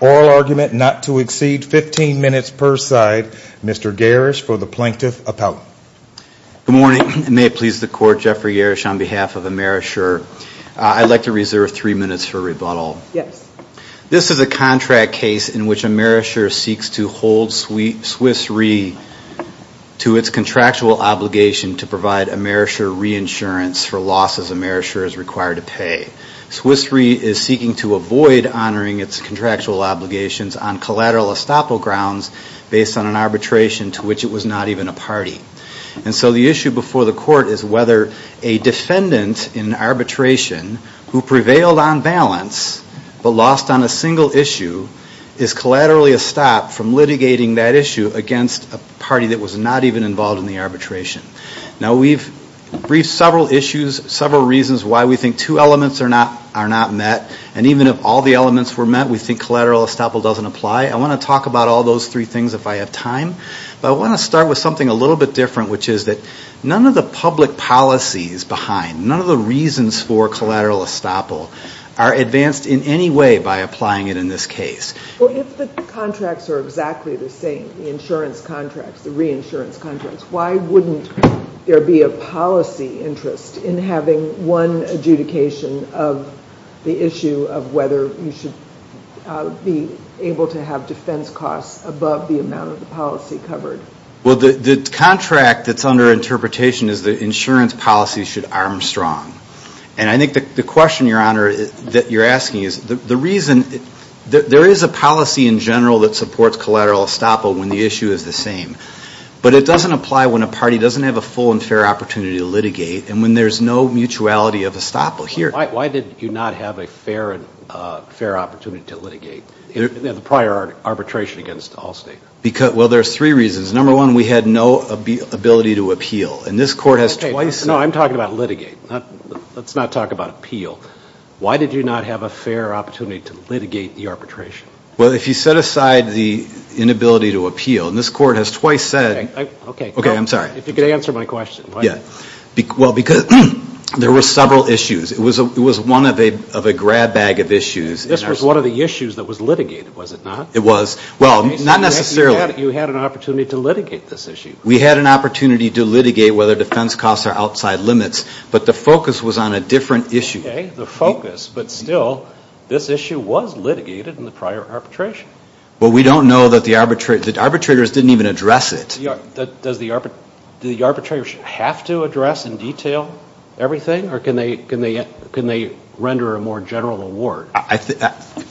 Oral argument not to exceed 15 minutes per side. Mr. Garish for the Plaintiff Appellate. Good morning. May it please the Court, Jeffrey Garish on behalf of AmeriShure. I'd like to reserve three minutes for rebuttal. Yes. This is a contract case in which AmeriShure seeks to hold Swiss Re. to its contractual obligation to provide AmeriShure reinsurance for losses AmeriShure is required to pay. Swiss Re. is seeking to avoid honoring its contractual obligations on collateral estoppel grounds based on an arbitration to which it was not even a party. And so the issue before the Court is whether a defendant in arbitration who prevailed on balance but lost on a single issue is collaterally estopped from litigating that issue against a party that was not even involved in the arbitration. Now we've briefed several issues, several reasons why we think two elements are not met. And even if all the elements were met, we think collateral estoppel doesn't apply. I want to talk about all those three things if I have time. But I want to start with something a little bit different, which is that none of the public policies behind, none of the reasons for collateral estoppel are advanced in any way by applying it in this case. Well, if the contracts are exactly the same, the insurance contracts, the reinsurance contracts, why wouldn't there be a policy interest in having one adjudication of the issue of whether you should be able to have defense costs above the amount of the policy covered? Well, the contract that's under interpretation is the insurance policy should arm strong. And I think the question, Your Honor, that you're asking is the reason, there is a policy in general that supports collateral estoppel when the issue is the same. But it doesn't apply when a party doesn't have a full and fair opportunity to litigate and when there's no mutuality of estoppel here. Why did you not have a fair opportunity to litigate the prior arbitration against Allstate? Well, there's three reasons. Number one, we had no ability to appeal. And this Court has twice... No, I'm talking about litigate. Let's not talk about appeal. Why did you not have a fair opportunity to litigate the arbitration? Well, if you set aside the inability to appeal, and this Court has twice said... Okay. Okay, I'm sorry. If you could answer my question. Yeah. Well, because there were several issues. It was one of a grab bag of issues. This was one of the issues that was litigated, was it not? It was. Well, not necessarily. You had an opportunity to litigate this issue. We had an opportunity to litigate whether defense costs are outside limits. But the focus was on a different issue. Okay, the focus. But still, this issue was litigated in the prior arbitration. Well, we don't know that the arbitrators didn't even address it. Does the arbitrators have to address in detail everything? Or can they render a more general award?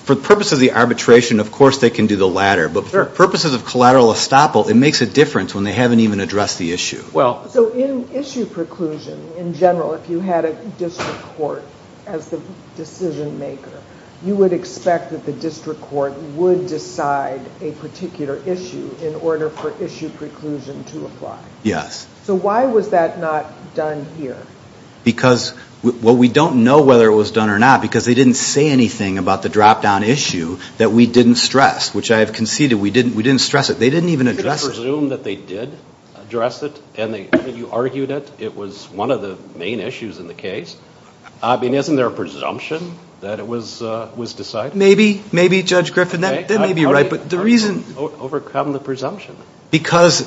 For purposes of the arbitration, of course they can do the latter. But for purposes of collateral estoppel, it makes a difference when they haven't even addressed the issue. Well, so in issue preclusion, in general, if you had a district court as the decision maker, you would expect that the district court would decide a particular issue in order for issue preclusion to apply. Yes. So why was that not done here? Well, we don't know whether it was done or not because they didn't say anything about the drop-down issue that we didn't stress, which I have conceded we didn't stress it. They didn't even address it. You can presume that they did address it and you argued it. It was one of the main issues in the case. I mean, isn't there a presumption that it was decided? Maybe. Maybe, Judge Griffin. That may be right. How did you overcome the presumption? Because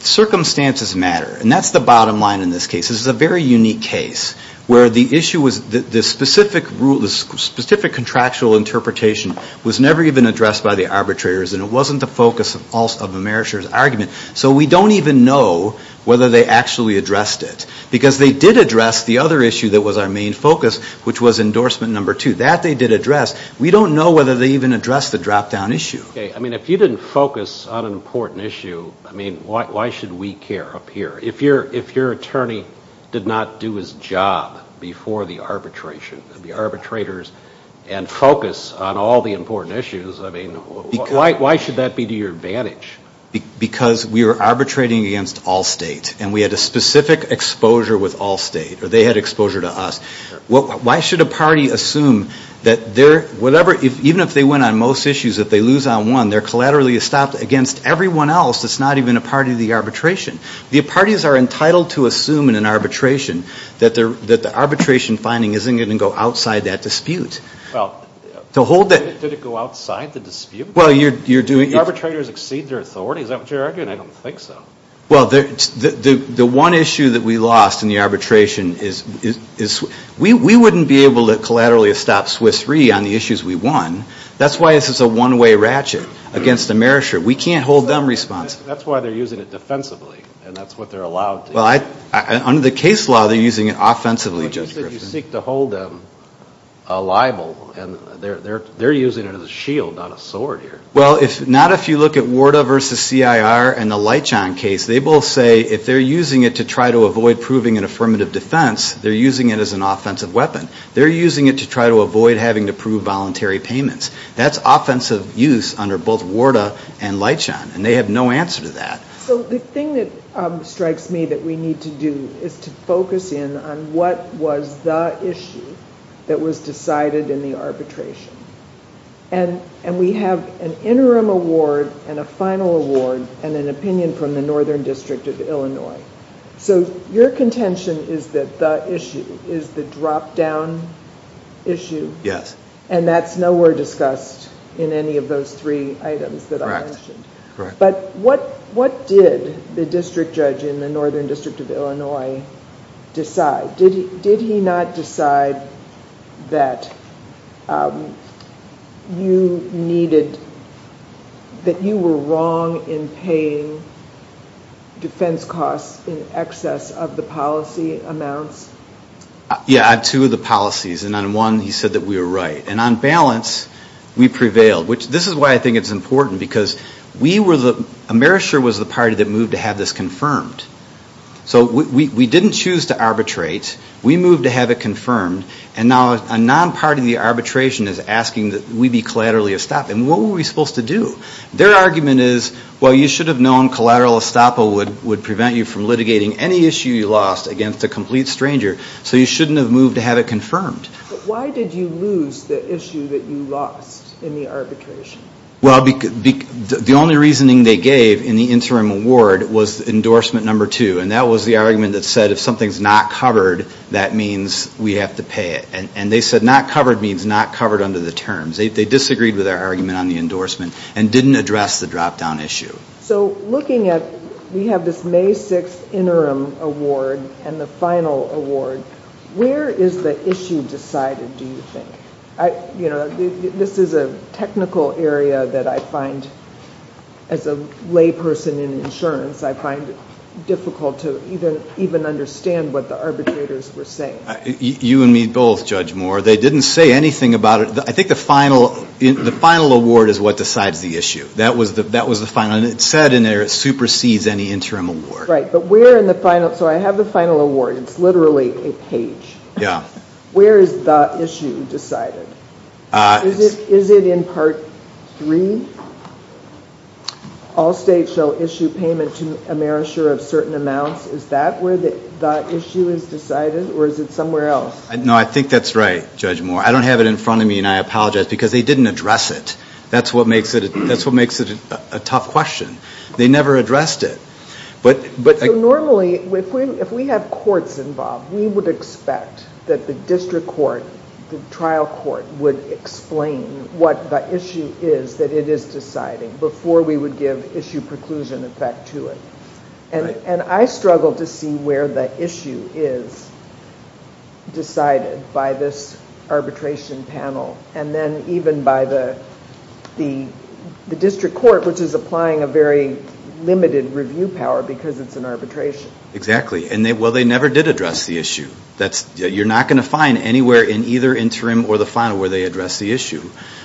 circumstances matter. And that's the bottom line in this case. This is a very unique case where the issue was the specific contractual interpretation was never even addressed by the arbitrators and it wasn't the focus of Amerisher's argument. So we don't even know whether they actually addressed it. Because they did address the other issue that was our main focus, which was endorsement number two. That they did address. We don't know whether they even addressed the drop-down issue. Okay. I mean, if you didn't focus on an important issue, I mean, why should we care up here? If your attorney did not do his job before the arbitration, the arbitrators, and focus on all the important issues, I mean, why should that be to your advantage? Because we were arbitrating against all states. And we had a specific exposure with all states. Or they had exposure to us. Why should a party assume that whatever, even if they win on most issues, if they lose on one, they're collaterally stopped against everyone else that's not even a party to the arbitration. The parties are entitled to assume in an arbitration that the arbitration finding isn't going to go outside that dispute. Well, did it go outside the dispute? Well, you're doing... Do the arbitrators exceed their authority? Is that what you're arguing? I don't think so. Well, the one issue that we lost in the arbitration is we wouldn't be able to collaterally stop Swiss Re on the issues we won. That's why this is a one-way ratchet against Amerisher. We can't hold them responsible. That's why they're using it defensively, and that's what they're allowed to use. Well, under the case law, they're using it offensively, Judge Griffin. But you said you seek to hold them liable, and they're using it as a shield, not a sword here. Well, not if you look at Warda v. C.I.R. and the Leitchon case. They both say if they're using it to try to avoid proving an affirmative defense, they're using it as an offensive weapon. They're using it to try to avoid having to prove voluntary payments. That's offensive use under both Warda and Leitchon, and they have no answer to that. So the thing that strikes me that we need to do is to focus in on what was the issue that was decided in the arbitration. And we have an interim award and a final award and an opinion from the Northern District of Illinois. So your contention is that the issue is the drop-down issue? Yes. And that's nowhere discussed in any of those three items that I mentioned. Correct. But what did the district judge in the Northern District of Illinois decide? Did he not decide that you needed, that you were wrong in paying defense costs in excess of the policy amounts? Yeah, on two of the policies. And on one, he said that we were right. And on balance, we prevailed. This is why I think it's important, because we were the, Amerisher was the party that moved to have this confirmed. So we didn't choose to arbitrate. We moved to have it confirmed. And now a non-party to the arbitration is asking that we be collaterally estopped. And what were we supposed to do? Their argument is, well, you should have known collateral estoppel would prevent you from litigating any issue you lost against a complete stranger, so you shouldn't have moved to have it confirmed. But why did you lose the issue that you lost in the arbitration? Well, the only reasoning they gave in the interim award was endorsement number two. And that was the argument that said if something's not covered, that means we have to pay it. And they said not covered means not covered under the terms. They disagreed with our argument on the endorsement and didn't address the drop-down issue. So looking at, we have this May 6th interim award and the final award. Where is the issue decided, do you think? You know, this is a technical area that I find, as a layperson in insurance, I find difficult to even understand what the arbitrators were saying. You and me both, Judge Moore. They didn't say anything about it. I think the final award is what decides the issue. That was the final. And it said in there it supersedes any interim award. Right. But where in the final, so I have the final award. It's literally a page. Yeah. Where is the issue decided? Is it in part three? All states shall issue payment to a merisher of certain amounts. Is that where the issue is decided, or is it somewhere else? No, I think that's right, Judge Moore. I don't have it in front of me, and I apologize, because they didn't address it. That's what makes it a tough question. They never addressed it. Normally, if we have courts involved, we would expect that the district court, the trial court, would explain what the issue is that it is deciding, before we would give issue preclusion effect to it. And I struggle to see where the issue is decided by this arbitration panel, and then even by the district court, which is applying a very limited review power because it's an arbitration. Exactly. Well, they never did address the issue. You're not going to find anywhere in either interim or the final where they address the issue,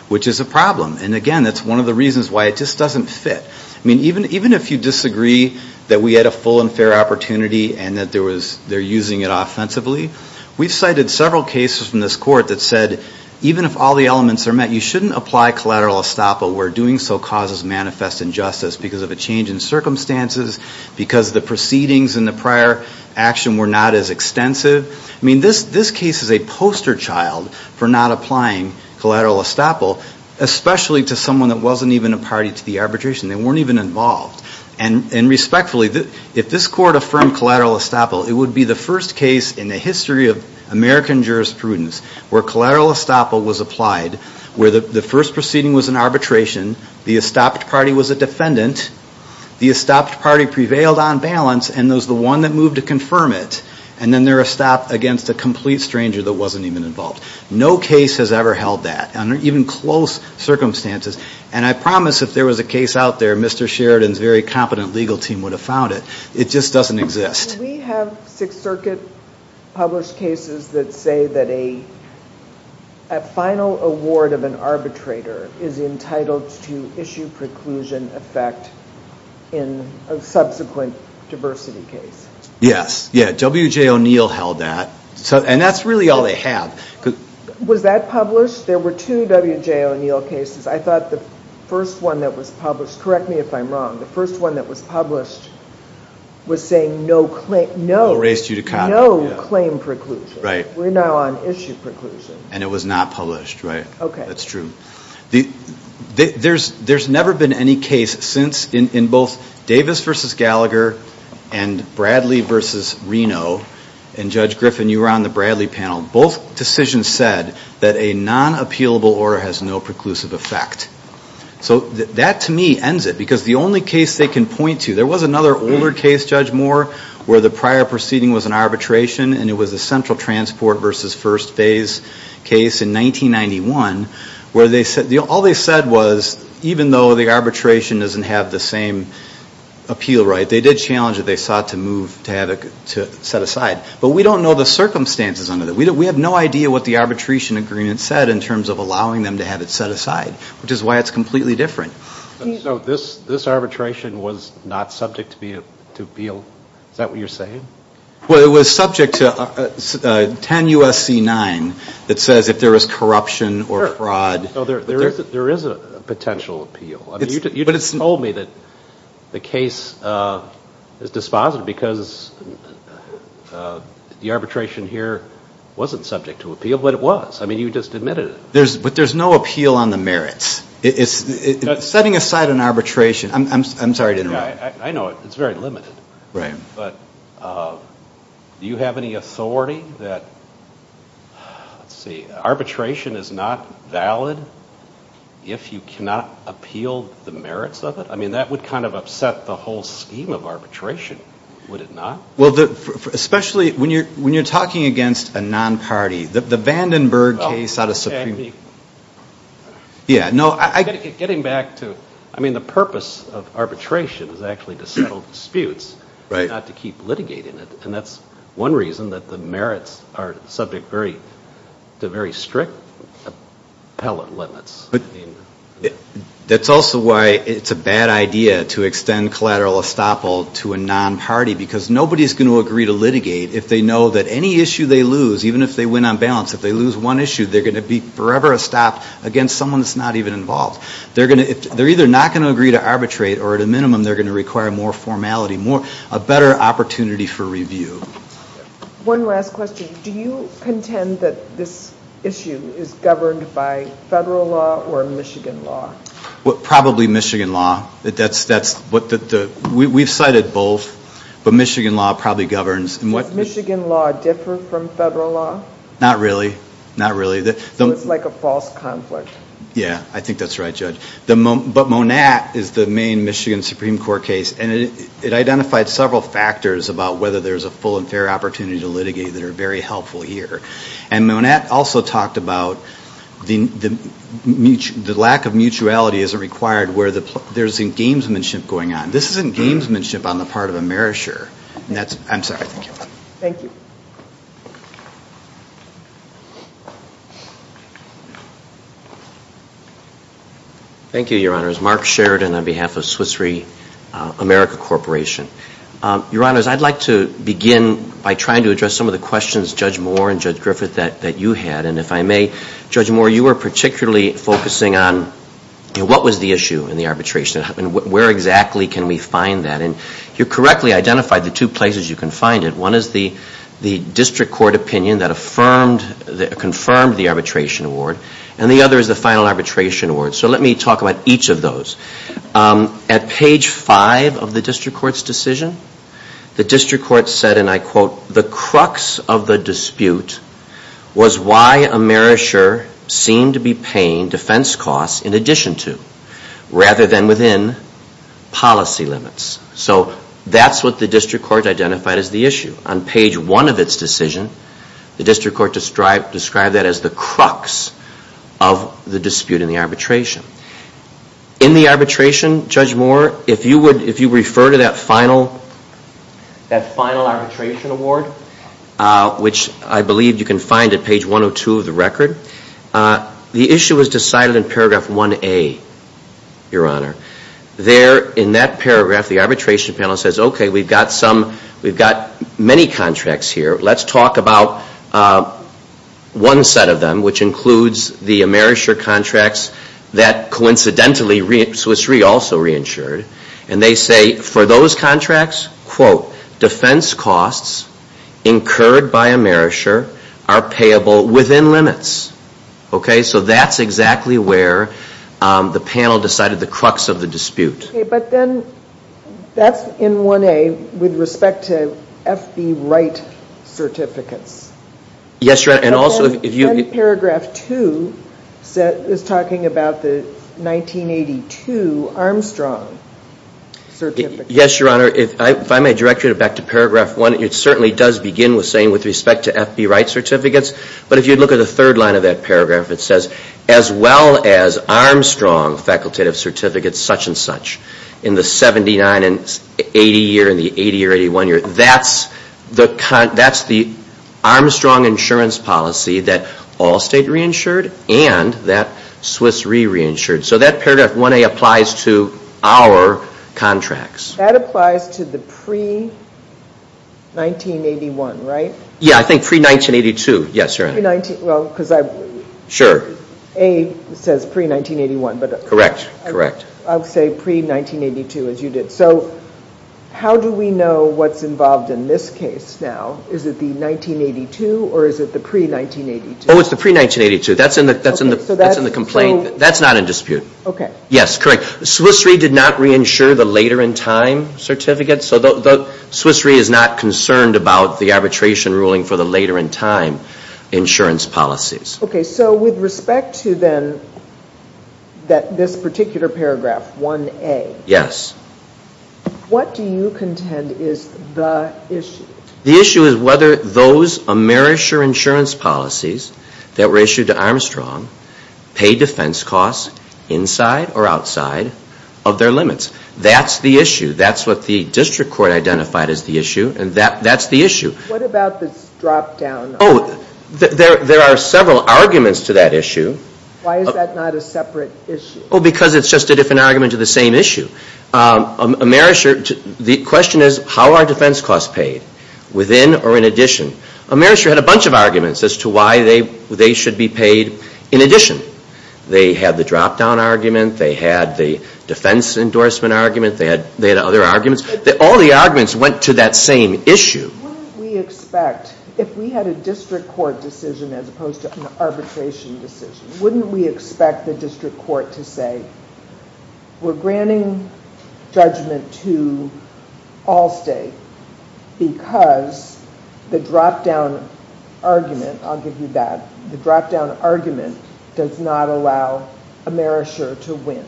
which is a problem. And, again, that's one of the reasons why it just doesn't fit. I mean, even if you disagree that we had a full and fair opportunity and that they're using it offensively, we've cited several cases from this court that said, even if all the elements are met, you shouldn't apply collateral estoppel where doing so causes manifest injustice because of a change in circumstances, because the proceedings in the prior action were not as extensive. I mean, this case is a poster child for not applying collateral estoppel, especially to someone that wasn't even a party to the arbitration. They weren't even involved. And, respectfully, if this court affirmed collateral estoppel, it would be the first case in the history of American jurisprudence where collateral estoppel was applied, where the first proceeding was an arbitration, the estopped party was a defendant, the estopped party prevailed on balance, and it was the one that moved to confirm it. And then they're estopped against a complete stranger that wasn't even involved. No case has ever held that under even close circumstances. And I promise if there was a case out there, Mr. Sheridan's very competent legal team would have found it. It just doesn't exist. Do we have Sixth Circuit published cases that say that a final award of an arbitrator is entitled to issue preclusion effect in a subsequent diversity case? Yes. W.J. O'Neill held that. And that's really all they have. Was that published? There were two W.J. O'Neill cases. I thought the first one that was published, correct me if I'm wrong, the first one that was published was saying no claim preclusion. We're now on issue preclusion. And it was not published, right? Okay. That's true. There's never been any case since in both Davis v. Gallagher and Bradley v. Reno, and Judge Griffin, you were on the Bradley panel, both decisions said that a non-appealable order has no preclusive effect. So that, to me, ends it. Because the only case they can point to, there was another older case, Judge Moore, where the prior proceeding was an arbitration, and it was the Central Transport v. First Phase case in 1991, where all they said was even though the arbitration doesn't have the same appeal right, they did challenge that they sought to move to have it set aside. But we don't know the circumstances under that. We have no idea what the arbitration agreement said in terms of allowing them to have it set aside, which is why it's completely different. So this arbitration was not subject to appeal? Is that what you're saying? Well, it was subject to 10 U.S.C. 9 that says if there was corruption or fraud. There is a potential appeal. You told me that the case is dispositive because the arbitration here wasn't subject to appeal, but it was. I mean, you just admitted it. But there's no appeal on the merits. Setting aside an arbitration, I'm sorry to interrupt. I know, it's very limited. But do you have any authority that, let's see, arbitration is not valid if you cannot appeal the merits of it? I mean, that would kind of upset the whole scheme of arbitration, would it not? Well, especially when you're talking against a non-party. The Vandenberg case out of Supreme Court. Getting back to, I mean, the purpose of arbitration is actually to settle disputes, not to keep litigating it. And that's one reason that the merits are subject to very strict limits. That's also why it's a bad idea to extend collateral estoppel to a non-party, because nobody is going to agree to litigate if they know that any issue they lose, even if they win on balance, if they lose one issue, they're going to be forever estopped against someone that's not even involved. They're either not going to agree to arbitrate, or at a minimum, they're going to require more formality, a better opportunity for review. One last question. Do you contend that this issue is governed by federal law or Michigan law? Probably Michigan law. We've cited both, but Michigan law probably governs. Does Michigan law differ from federal law? Not really, not really. So it's like a false conflict. Yeah, I think that's right, Judge. But Monat is the main Michigan Supreme Court case, and it identified several factors about whether there's a full and fair opportunity to litigate that are very helpful here. And Monat also talked about the lack of mutuality as required where there's engamesmanship going on. This isn't gamesmanship on the part of a marisher. I'm sorry. Thank you. Thank you, Your Honors. Mark Sheridan on behalf of Swiss Re America Corporation. Your Honors, I'd like to begin by trying to address some of the questions, Judge Moore and Judge Griffith, that you had. And if I may, Judge Moore, you were particularly focusing on what was the issue in the arbitration and where exactly can we find that. And you correctly identified the two places you can find it. One is the district court opinion that confirmed the arbitration award. And the other is the final arbitration award. So let me talk about each of those. At page five of the district court's decision, the district court said, and I quote, the crux of the dispute was why a marisher seemed to be paying defense costs in addition to, rather than within, policy limits. So that's what the district court identified as the issue. On page one of its decision, the district court described that as the crux of the dispute in the arbitration. In the arbitration, Judge Moore, if you refer to that final arbitration award, which I believe you can find at page 102 of the record, the issue was decided in paragraph 1A, Your Honor. There in that paragraph, the arbitration panel says, okay, we've got many contracts here. Let's talk about one set of them, which includes the marisher contracts that coincidentally Swiss Re also reinsured. And they say for those contracts, quote, defense costs incurred by a marisher are payable within limits. Okay? So that's exactly where the panel decided the crux of the dispute. Okay, but then that's in 1A with respect to F.B. Wright certificates. Yes, Your Honor. And paragraph 2 is talking about the 1982 Armstrong certificates. Yes, Your Honor. If I may direct you back to paragraph 1, it certainly does begin with saying with respect to F.B. Wright certificates. But if you look at the third line of that paragraph, it says, as well as Armstrong facultative certificates, such and such, in the 79 and 80 year, in the 80 or 81 year, that's the Armstrong insurance policy that all state reinsured and that Swiss Re reinsured. So that paragraph 1A applies to our contracts. That applies to the pre-1981, right? Yeah, I think pre-1982. Yes, Your Honor. Sure. A says pre-1981. Correct, correct. I'll say pre-1982 as you did. So how do we know what's involved in this case now? Is it the 1982 or is it the pre-1982? Oh, it's the pre-1982. That's in the complaint. That's not in dispute. Okay. Yes, correct. Swiss Re did not reinsure the later in time certificates. So Swiss Re is not concerned about the arbitration ruling for the later in time insurance policies. Okay. So with respect to then this particular paragraph 1A. Yes. What do you contend is the issue? The issue is whether those Amerisher insurance policies that were issued to Armstrong pay defense costs inside or outside of their limits. That's the issue. That's what the district court identified as the issue and that's the issue. What about this drop down? Oh, there are several arguments to that issue. Why is that not a separate issue? Oh, because it's just a different argument to the same issue. Amerisher, the question is how are defense costs paid, within or in addition? Amerisher had a bunch of arguments as to why they should be paid in addition. They had the drop down argument. They had the defense endorsement argument. They had other arguments. All the arguments went to that same issue. Wouldn't we expect, if we had a district court decision as opposed to an arbitration decision, wouldn't we expect the district court to say we're granting judgment to Allstate because the drop down argument, I'll give you that, the drop down argument does not allow Amerisher to win.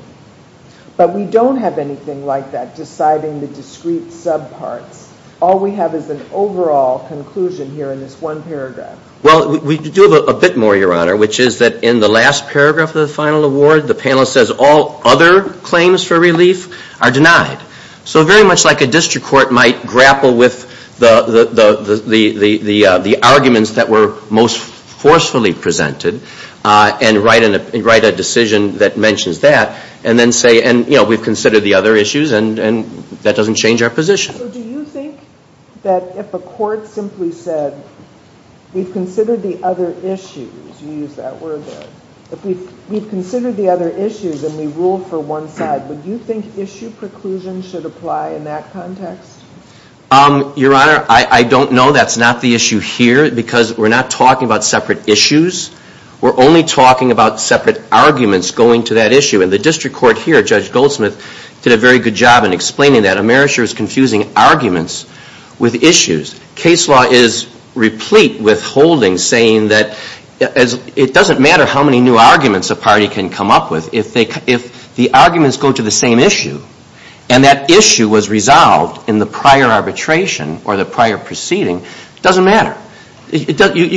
But we don't have anything like that deciding the discrete subparts. All we have is an overall conclusion here in this one paragraph. Well, we do have a bit more, Your Honor, which is that in the last paragraph of the final award, the panelist says all other claims for relief are denied. So very much like a district court might grapple with the arguments that were most forcefully presented and write a decision that mentions that and then say we've considered the other issues and that doesn't change our position. So do you think that if a court simply said we've considered the other issues, you used that word there, if we've considered the other issues and we rule for one side, would you think issue preclusion should apply in that context? Your Honor, I don't know. That's not the issue here because we're not talking about separate issues. We're only talking about separate arguments going to that issue. And the district court here, Judge Goldsmith, did a very good job in explaining that. Amerisher is confusing arguments with issues. Case law is replete with holdings saying that it doesn't matter how many new arguments a party can come up with. If the arguments go to the same issue and that issue was resolved in the prior arbitration or the prior proceeding, it doesn't matter. You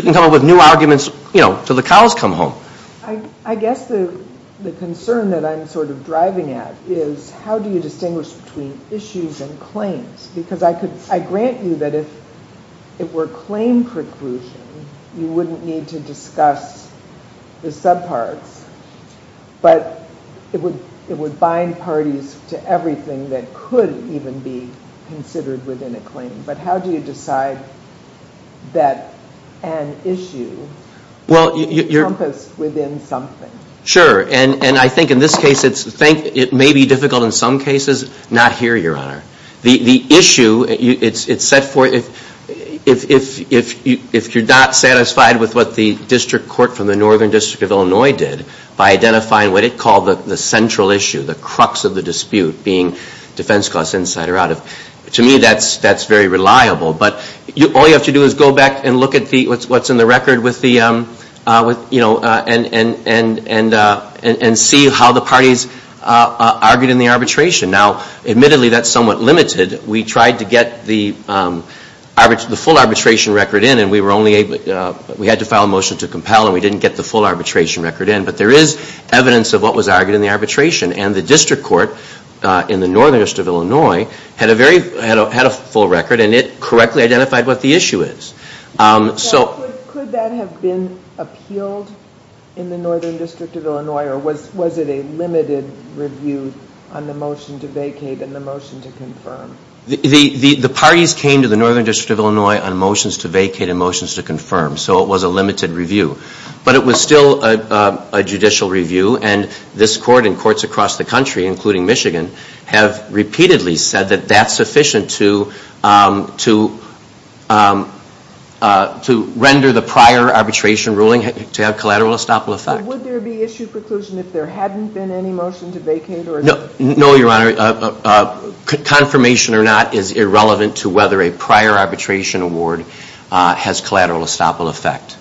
can come up with new arguments until the cows come home. I guess the concern that I'm sort of driving at is how do you distinguish between issues and claims? Because I grant you that if it were claim preclusion, you wouldn't need to discuss the subparts, but it would bind parties to everything that could even be considered within a claim. But how do you decide that an issue is encompassed within something? Sure. And I think in this case, it may be difficult in some cases. Not here, Your Honor. The issue, it's set forth if you're not satisfied with what the district court from the Northern District of Illinois did by identifying what it called the central issue, the crux of the dispute, being defense class insider out. To me, that's very reliable. But all you have to do is go back and look at what's in the record and see how the parties argued in the arbitration. Now, admittedly, that's somewhat limited. We tried to get the full arbitration record in, and we had to file a motion to compel, and we didn't get the full arbitration record in. But there is evidence of what was argued in the arbitration. And the district court in the Northern District of Illinois had a full record, and it correctly identified what the issue is. So could that have been appealed in the Northern District of Illinois, or was it a limited review on the motion to vacate and the motion to confirm? The parties came to the Northern District of Illinois on motions to vacate and motions to confirm. So it was a limited review. But it was still a judicial review, and this court and courts across the country, including Michigan, have repeatedly said that that's sufficient to render the prior arbitration ruling to have collateral estoppel effect. Would there be issue preclusion if there hadn't been any motion to vacate? No, Your Honor. Confirmation or not is irrelevant to whether a prior arbitration award has collateral estoppel effect.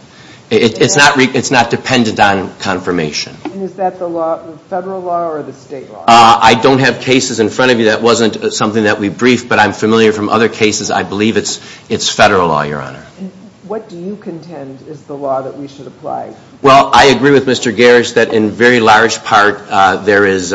It's not dependent on confirmation. And is that the federal law or the state law? I don't have cases in front of you. That wasn't something that we briefed, but I'm familiar from other cases. I believe it's federal law, Your Honor. What do you contend is the law that we should apply? Well, I agree with Mr. Garish that in very large part there is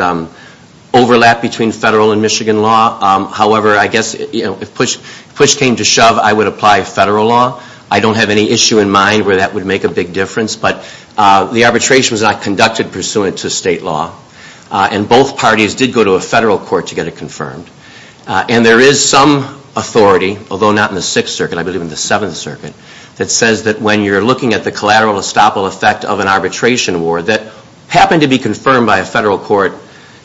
overlap between federal and Michigan law. However, I guess if push came to shove, I would apply federal law. I don't have any issue in mind where that would make a big difference. But the arbitration was not conducted pursuant to state law. And both parties did go to a federal court to get it confirmed. And there is some authority, although not in the Sixth Circuit, I believe in the Seventh Circuit, that says that when you're looking at the collateral estoppel effect of an arbitration award that happened to be confirmed by a federal court,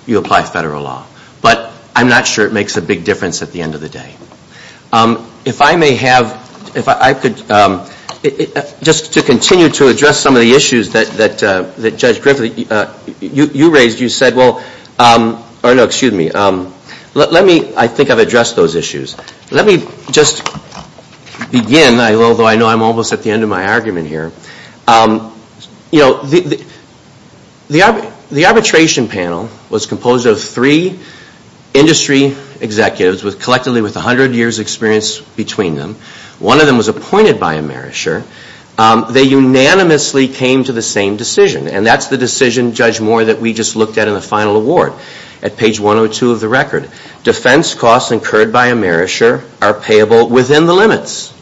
you apply federal law. But I'm not sure it makes a big difference at the end of the day. If I may have, if I could, just to continue to address some of the issues that Judge Griffith, you raised, you said, well, or no, excuse me, let me, I think I've addressed those issues. Let me just begin, although I know I'm almost at the end of my argument here. You know, the arbitration panel was composed of three industry executives, collectively with 100 years' experience between them. One of them was appointed by a merisher. They unanimously came to the same decision. And that's the decision, Judge Moore, that we just looked at in the final award at page 102 of the record. Defense costs incurred by a merisher are payable within the limits.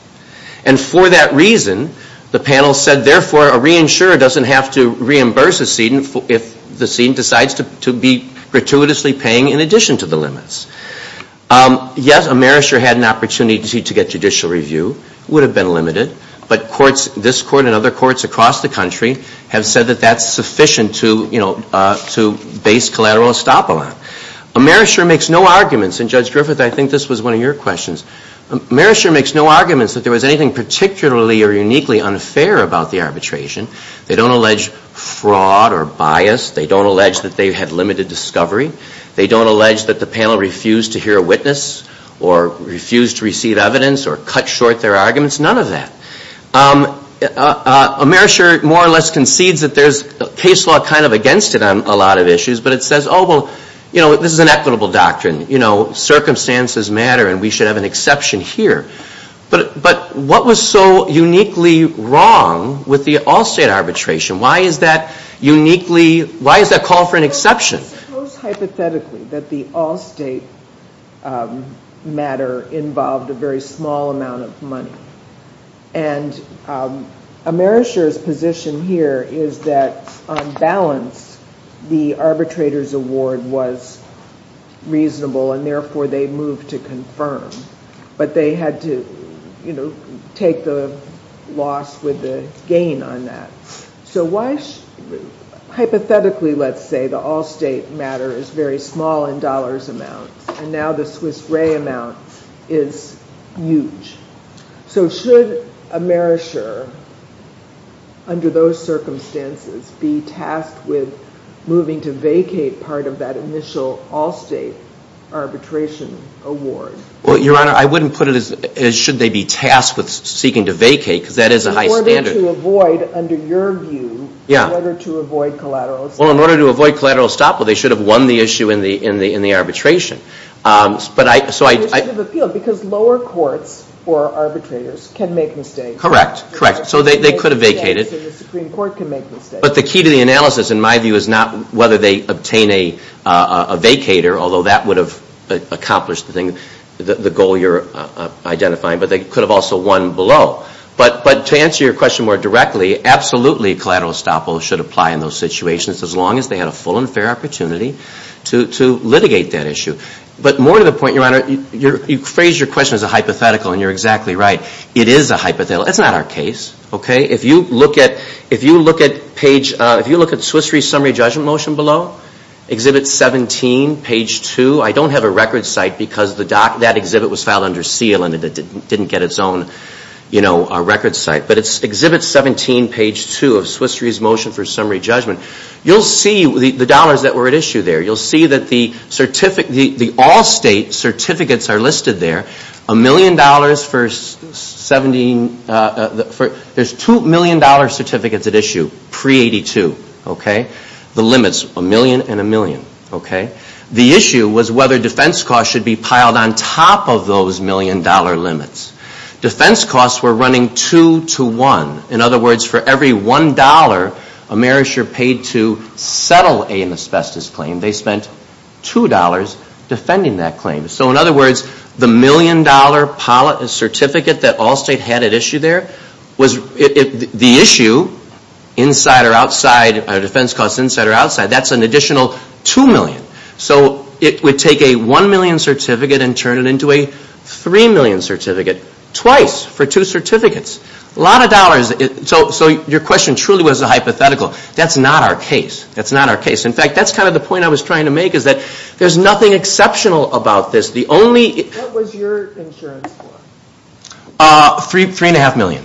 And for that reason, the panel said, therefore, a reinsurer doesn't have to reimburse a seedant if the seedant decides to be gratuitously paying in addition to the limits. Yes, a merisher had an opportunity to get judicial review. It would have been limited. But courts, this court and other courts across the country, have said that that's sufficient to, you know, to base collateral estoppel on. A merisher makes no arguments, and Judge Griffith, I think this was one of your questions. A merisher makes no arguments that there was anything particularly or uniquely unfair about the arbitration. They don't allege fraud or bias. They don't allege that they had limited discovery. They don't allege that the panel refused to hear a witness or refused to receive evidence or cut short their arguments, none of that. A merisher more or less concedes that there's case law kind of against it on a lot of issues, but it says, oh, well, you know, this is an equitable doctrine. You know, circumstances matter, and we should have an exception here. But what was so uniquely wrong with the Allstate arbitration? Why is that uniquely – why is that called for an exception? I suppose hypothetically that the Allstate matter involved a very small amount of money. And a merisher's position here is that on balance the arbitrator's award was reasonable, and therefore they moved to confirm. But they had to, you know, take the loss with the gain on that. So why – hypothetically, let's say the Allstate matter is very small in dollars amounts, and now the Swiss Re amount is huge. So should a merisher under those circumstances be tasked with moving to vacate part of that initial Allstate arbitration award? Well, Your Honor, I wouldn't put it as should they be tasked with seeking to vacate because that is a high standard. In order to avoid, under your view, in order to avoid collateral estoppel. Well, in order to avoid collateral estoppel, they should have won the issue in the arbitration. But I – so I – Because lower courts or arbitrators can make mistakes. Correct. Correct. So they could have vacated. And the Supreme Court can make mistakes. But the key to the analysis, in my view, is not whether they obtain a vacater, although that would have accomplished the thing – the goal you're identifying. But they could have also won below. But to answer your question more directly, absolutely collateral estoppel should apply in those situations as long as they had a full and fair opportunity to litigate that issue. But more to the point, Your Honor, you phrased your question as a hypothetical, and you're exactly right. It is a hypothetical. That's not our case. Okay? If you look at page – if you look at Swiss Re's summary judgment motion below, Exhibit 17, page 2. I don't have a record site because that exhibit was filed under seal and it didn't get its own, you know, record site. But it's Exhibit 17, page 2 of Swiss Re's motion for summary judgment. You'll see the dollars that were at issue there. You'll see that the all-state certificates are listed there. A million dollars for – there's $2 million certificates at issue pre-'82. Okay? The limits, a million and a million. Okay? The issue was whether defense costs should be piled on top of those million-dollar limits. Defense costs were running two-to-one. In other words, for every $1 Amerisher paid to settle an asbestos claim, they spent $2 defending that claim. So, in other words, the million-dollar certificate that all-state had at issue there was – the issue, inside or outside, defense costs inside or outside, that's an additional $2 million. So it would take a $1 million certificate and turn it into a $3 million certificate. Twice for two certificates. A lot of dollars. So your question truly was a hypothetical. That's not our case. That's not our case. In fact, that's kind of the point I was trying to make is that there's nothing exceptional about this. The only – What was your insurance for? Three and a half million.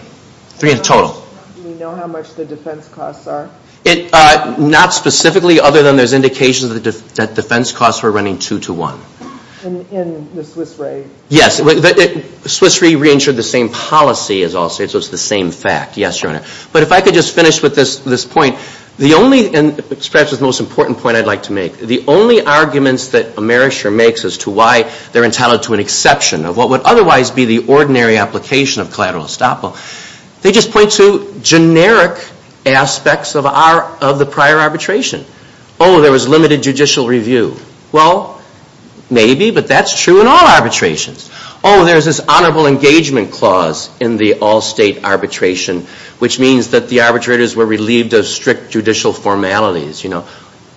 Three in total. Do you know how much the defense costs are? Not specifically, other than there's indications that defense costs were running two-to-one. In the Swiss Re? Yes. Swiss Re reinsured the same policy as all states, so it's the same fact. Yes, Your Honor. But if I could just finish with this point, the only – and perhaps it's the most important point I'd like to make. The only arguments that Amerisher makes as to why they're entitled to an exception of what would otherwise be the ordinary application of collateral estoppel, they just point to generic aspects of the prior arbitration. Oh, there was limited judicial review. Well, maybe, but that's true in all arbitrations. Oh, there's this honorable engagement clause in the all-state arbitration, which means that the arbitrators were relieved of strict judicial formalities.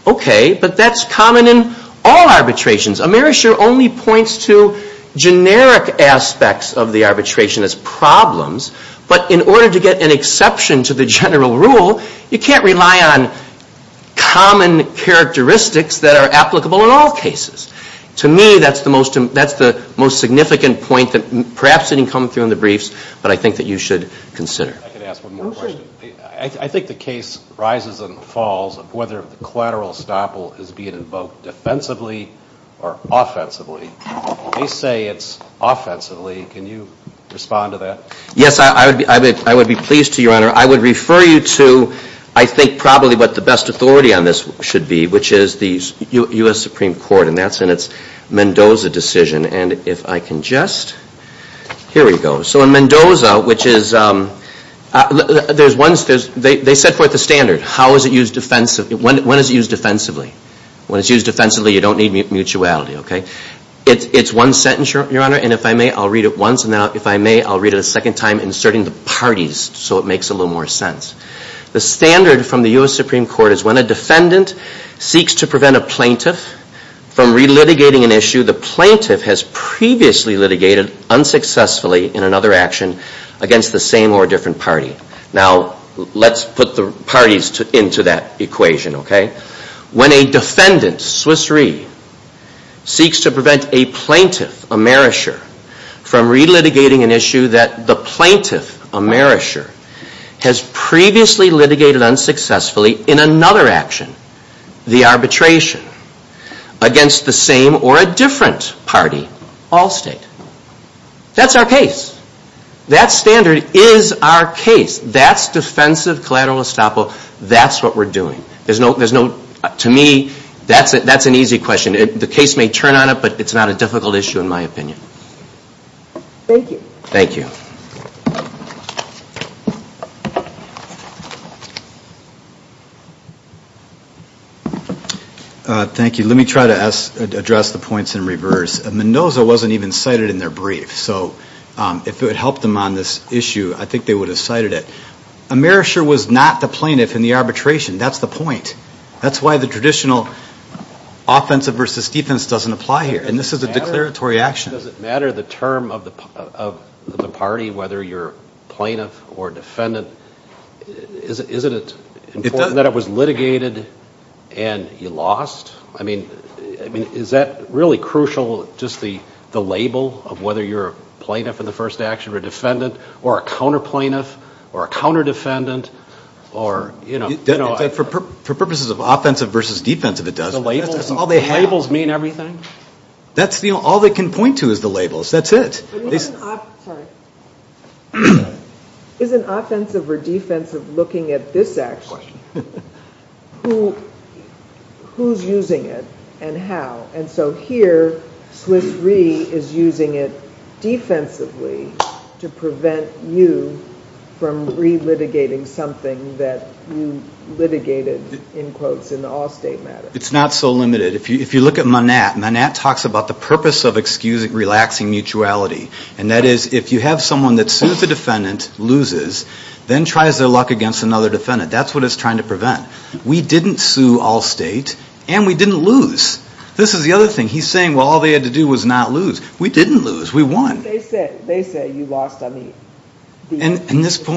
Okay, but that's common in all arbitrations. Amerisher only points to generic aspects of the arbitration as problems, but in order to get an exception to the general rule, you can't rely on common characteristics that are applicable in all cases. To me, that's the most significant point that perhaps didn't come through in the briefs, but I think that you should consider. I can ask one more question. I think the case rises and falls of whether the collateral estoppel is being invoked defensively or offensively. They say it's offensively. Can you respond to that? Yes, I would be pleased to, Your Honor. I would refer you to, I think, probably what the best authority on this should be, which is the U.S. Supreme Court, and that's in its Mendoza decision. And if I can just – here we go. So in Mendoza, which is – there's one – they set forth a standard. How is it used defensively? When is it used defensively? When it's used defensively, you don't need mutuality, okay? It's one sentence, Your Honor, and if I may, I'll read it once, and then if I may, I'll read it a second time inserting the parties so it makes a little more sense. The standard from the U.S. Supreme Court is when a defendant seeks to prevent a plaintiff from relitigating an issue the plaintiff has previously litigated unsuccessfully in another action against the same or different party. Now, let's put the parties into that equation, okay? When a defendant, Swiss Re, seeks to prevent a plaintiff, a marisher, from relitigating an issue that the plaintiff, a marisher, has previously litigated unsuccessfully in another action, the arbitration, against the same or a different party, all state. That's our case. That standard is our case. That's defensive collateral estoppel. That's what we're doing. To me, that's an easy question. The case may turn on it, but it's not a difficult issue in my opinion. Thank you. Thank you. Thank you. Let me try to address the points in reverse. Mendoza wasn't even cited in their brief, so if it helped them on this issue, I think they would have cited it. A marisher was not the plaintiff in the arbitration. That's the point. That's why the traditional offensive versus defense doesn't apply here, and this is a declaratory action. Does it matter the term of the party, whether you're plaintiff or defendant? Isn't it important that it was litigated and you lost? I mean, is that really crucial, just the label of whether you're a plaintiff in the first action or a defendant or a counterplaintiff or a counterdefendant? For purposes of offensive versus defensive, it does. The labels mean everything? All they can point to is the labels. That's it. Sorry. Is an offensive or defensive looking at this action, who's using it and how? And so here, Swiss Re is using it defensively to prevent you from relitigating something that you litigated, in quotes, in the Allstate matter. It's not so limited. If you look at Manat, Manat talks about the purpose of relaxing mutuality, and that is if you have someone that sues the defendant, loses, then tries their luck against another defendant. That's what it's trying to prevent. We didn't sue Allstate, and we didn't lose. This is the other thing. He's saying, well, all they had to do was not lose. We didn't lose. We won. They said you lost on the defense.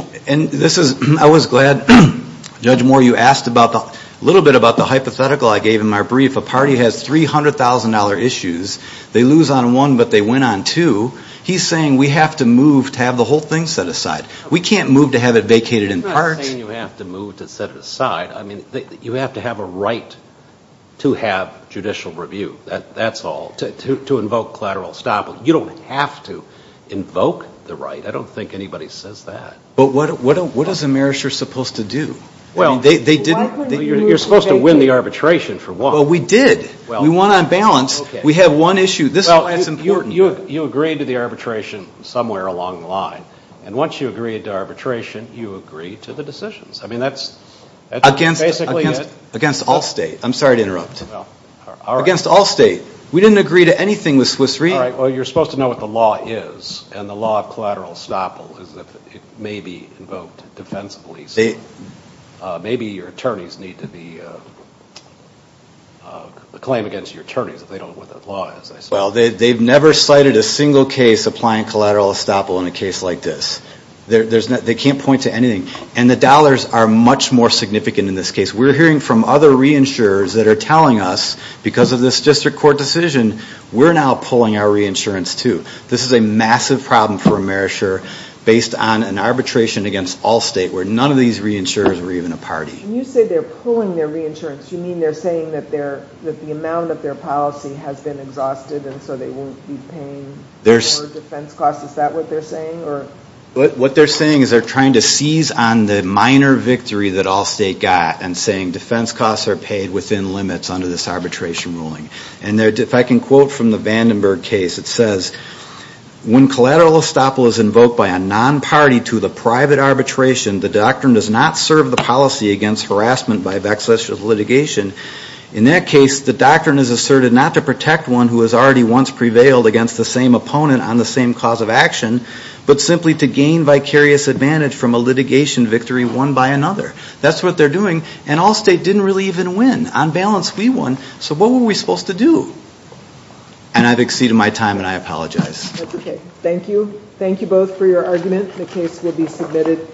I was glad, Judge Moore, you asked a little bit about the hypothetical I gave in my brief. A party has $300,000 issues. They lose on one, but they win on two. He's saying we have to move to have the whole thing set aside. We can't move to have it vacated in part. He's not saying you have to move to set it aside. I mean, you have to have a right to have judicial review. That's all. To invoke collateral estoppel. You don't have to invoke the right. I don't think anybody says that. But what is a merisher supposed to do? They didn't. You're supposed to win the arbitration for one. Well, we did. We won on balance. We had one issue. That's important. You agreed to the arbitration somewhere along the line, and once you agreed to arbitration, you agreed to the decisions. I mean, that's basically it. Against Allstate. I'm sorry to interrupt. Against Allstate. We didn't agree to anything with Swiss Re. Well, you're supposed to know what the law is, and the law of collateral estoppel is that it may be invoked defensively. Maybe your attorneys need to be the claim against your attorneys if they don't know what that law is. Well, they've never cited a single case applying collateral estoppel in a case like this. They can't point to anything. And the dollars are much more significant in this case. We're hearing from other reinsurers that are telling us because of this district court decision, we're now pulling our reinsurance, too. This is a massive problem for a merisher based on an arbitration against Allstate where none of these reinsurers were even a party. When you say they're pulling their reinsurance, you mean they're saying that the amount of their policy has been exhausted and so they won't be paying for defense costs? Is that what they're saying? What they're saying is they're trying to seize on the minor victory that Allstate got and saying defense costs are paid within limits under this arbitration ruling. And if I can quote from the Vandenberg case, it says, when collateral estoppel is invoked by a non-party to the private arbitration, the doctrine does not serve the policy against harassment by a backslash of litigation. In that case, the doctrine is asserted not to protect one who has already once prevailed against the same opponent on the same cause of action, but simply to gain vicarious advantage from a litigation victory won by another. That's what they're doing. And Allstate didn't really even win. On balance, we won. So what were we supposed to do? And I've exceeded my time and I apologize. That's okay. Thank you. Thank you both for your argument. The case will be submitted.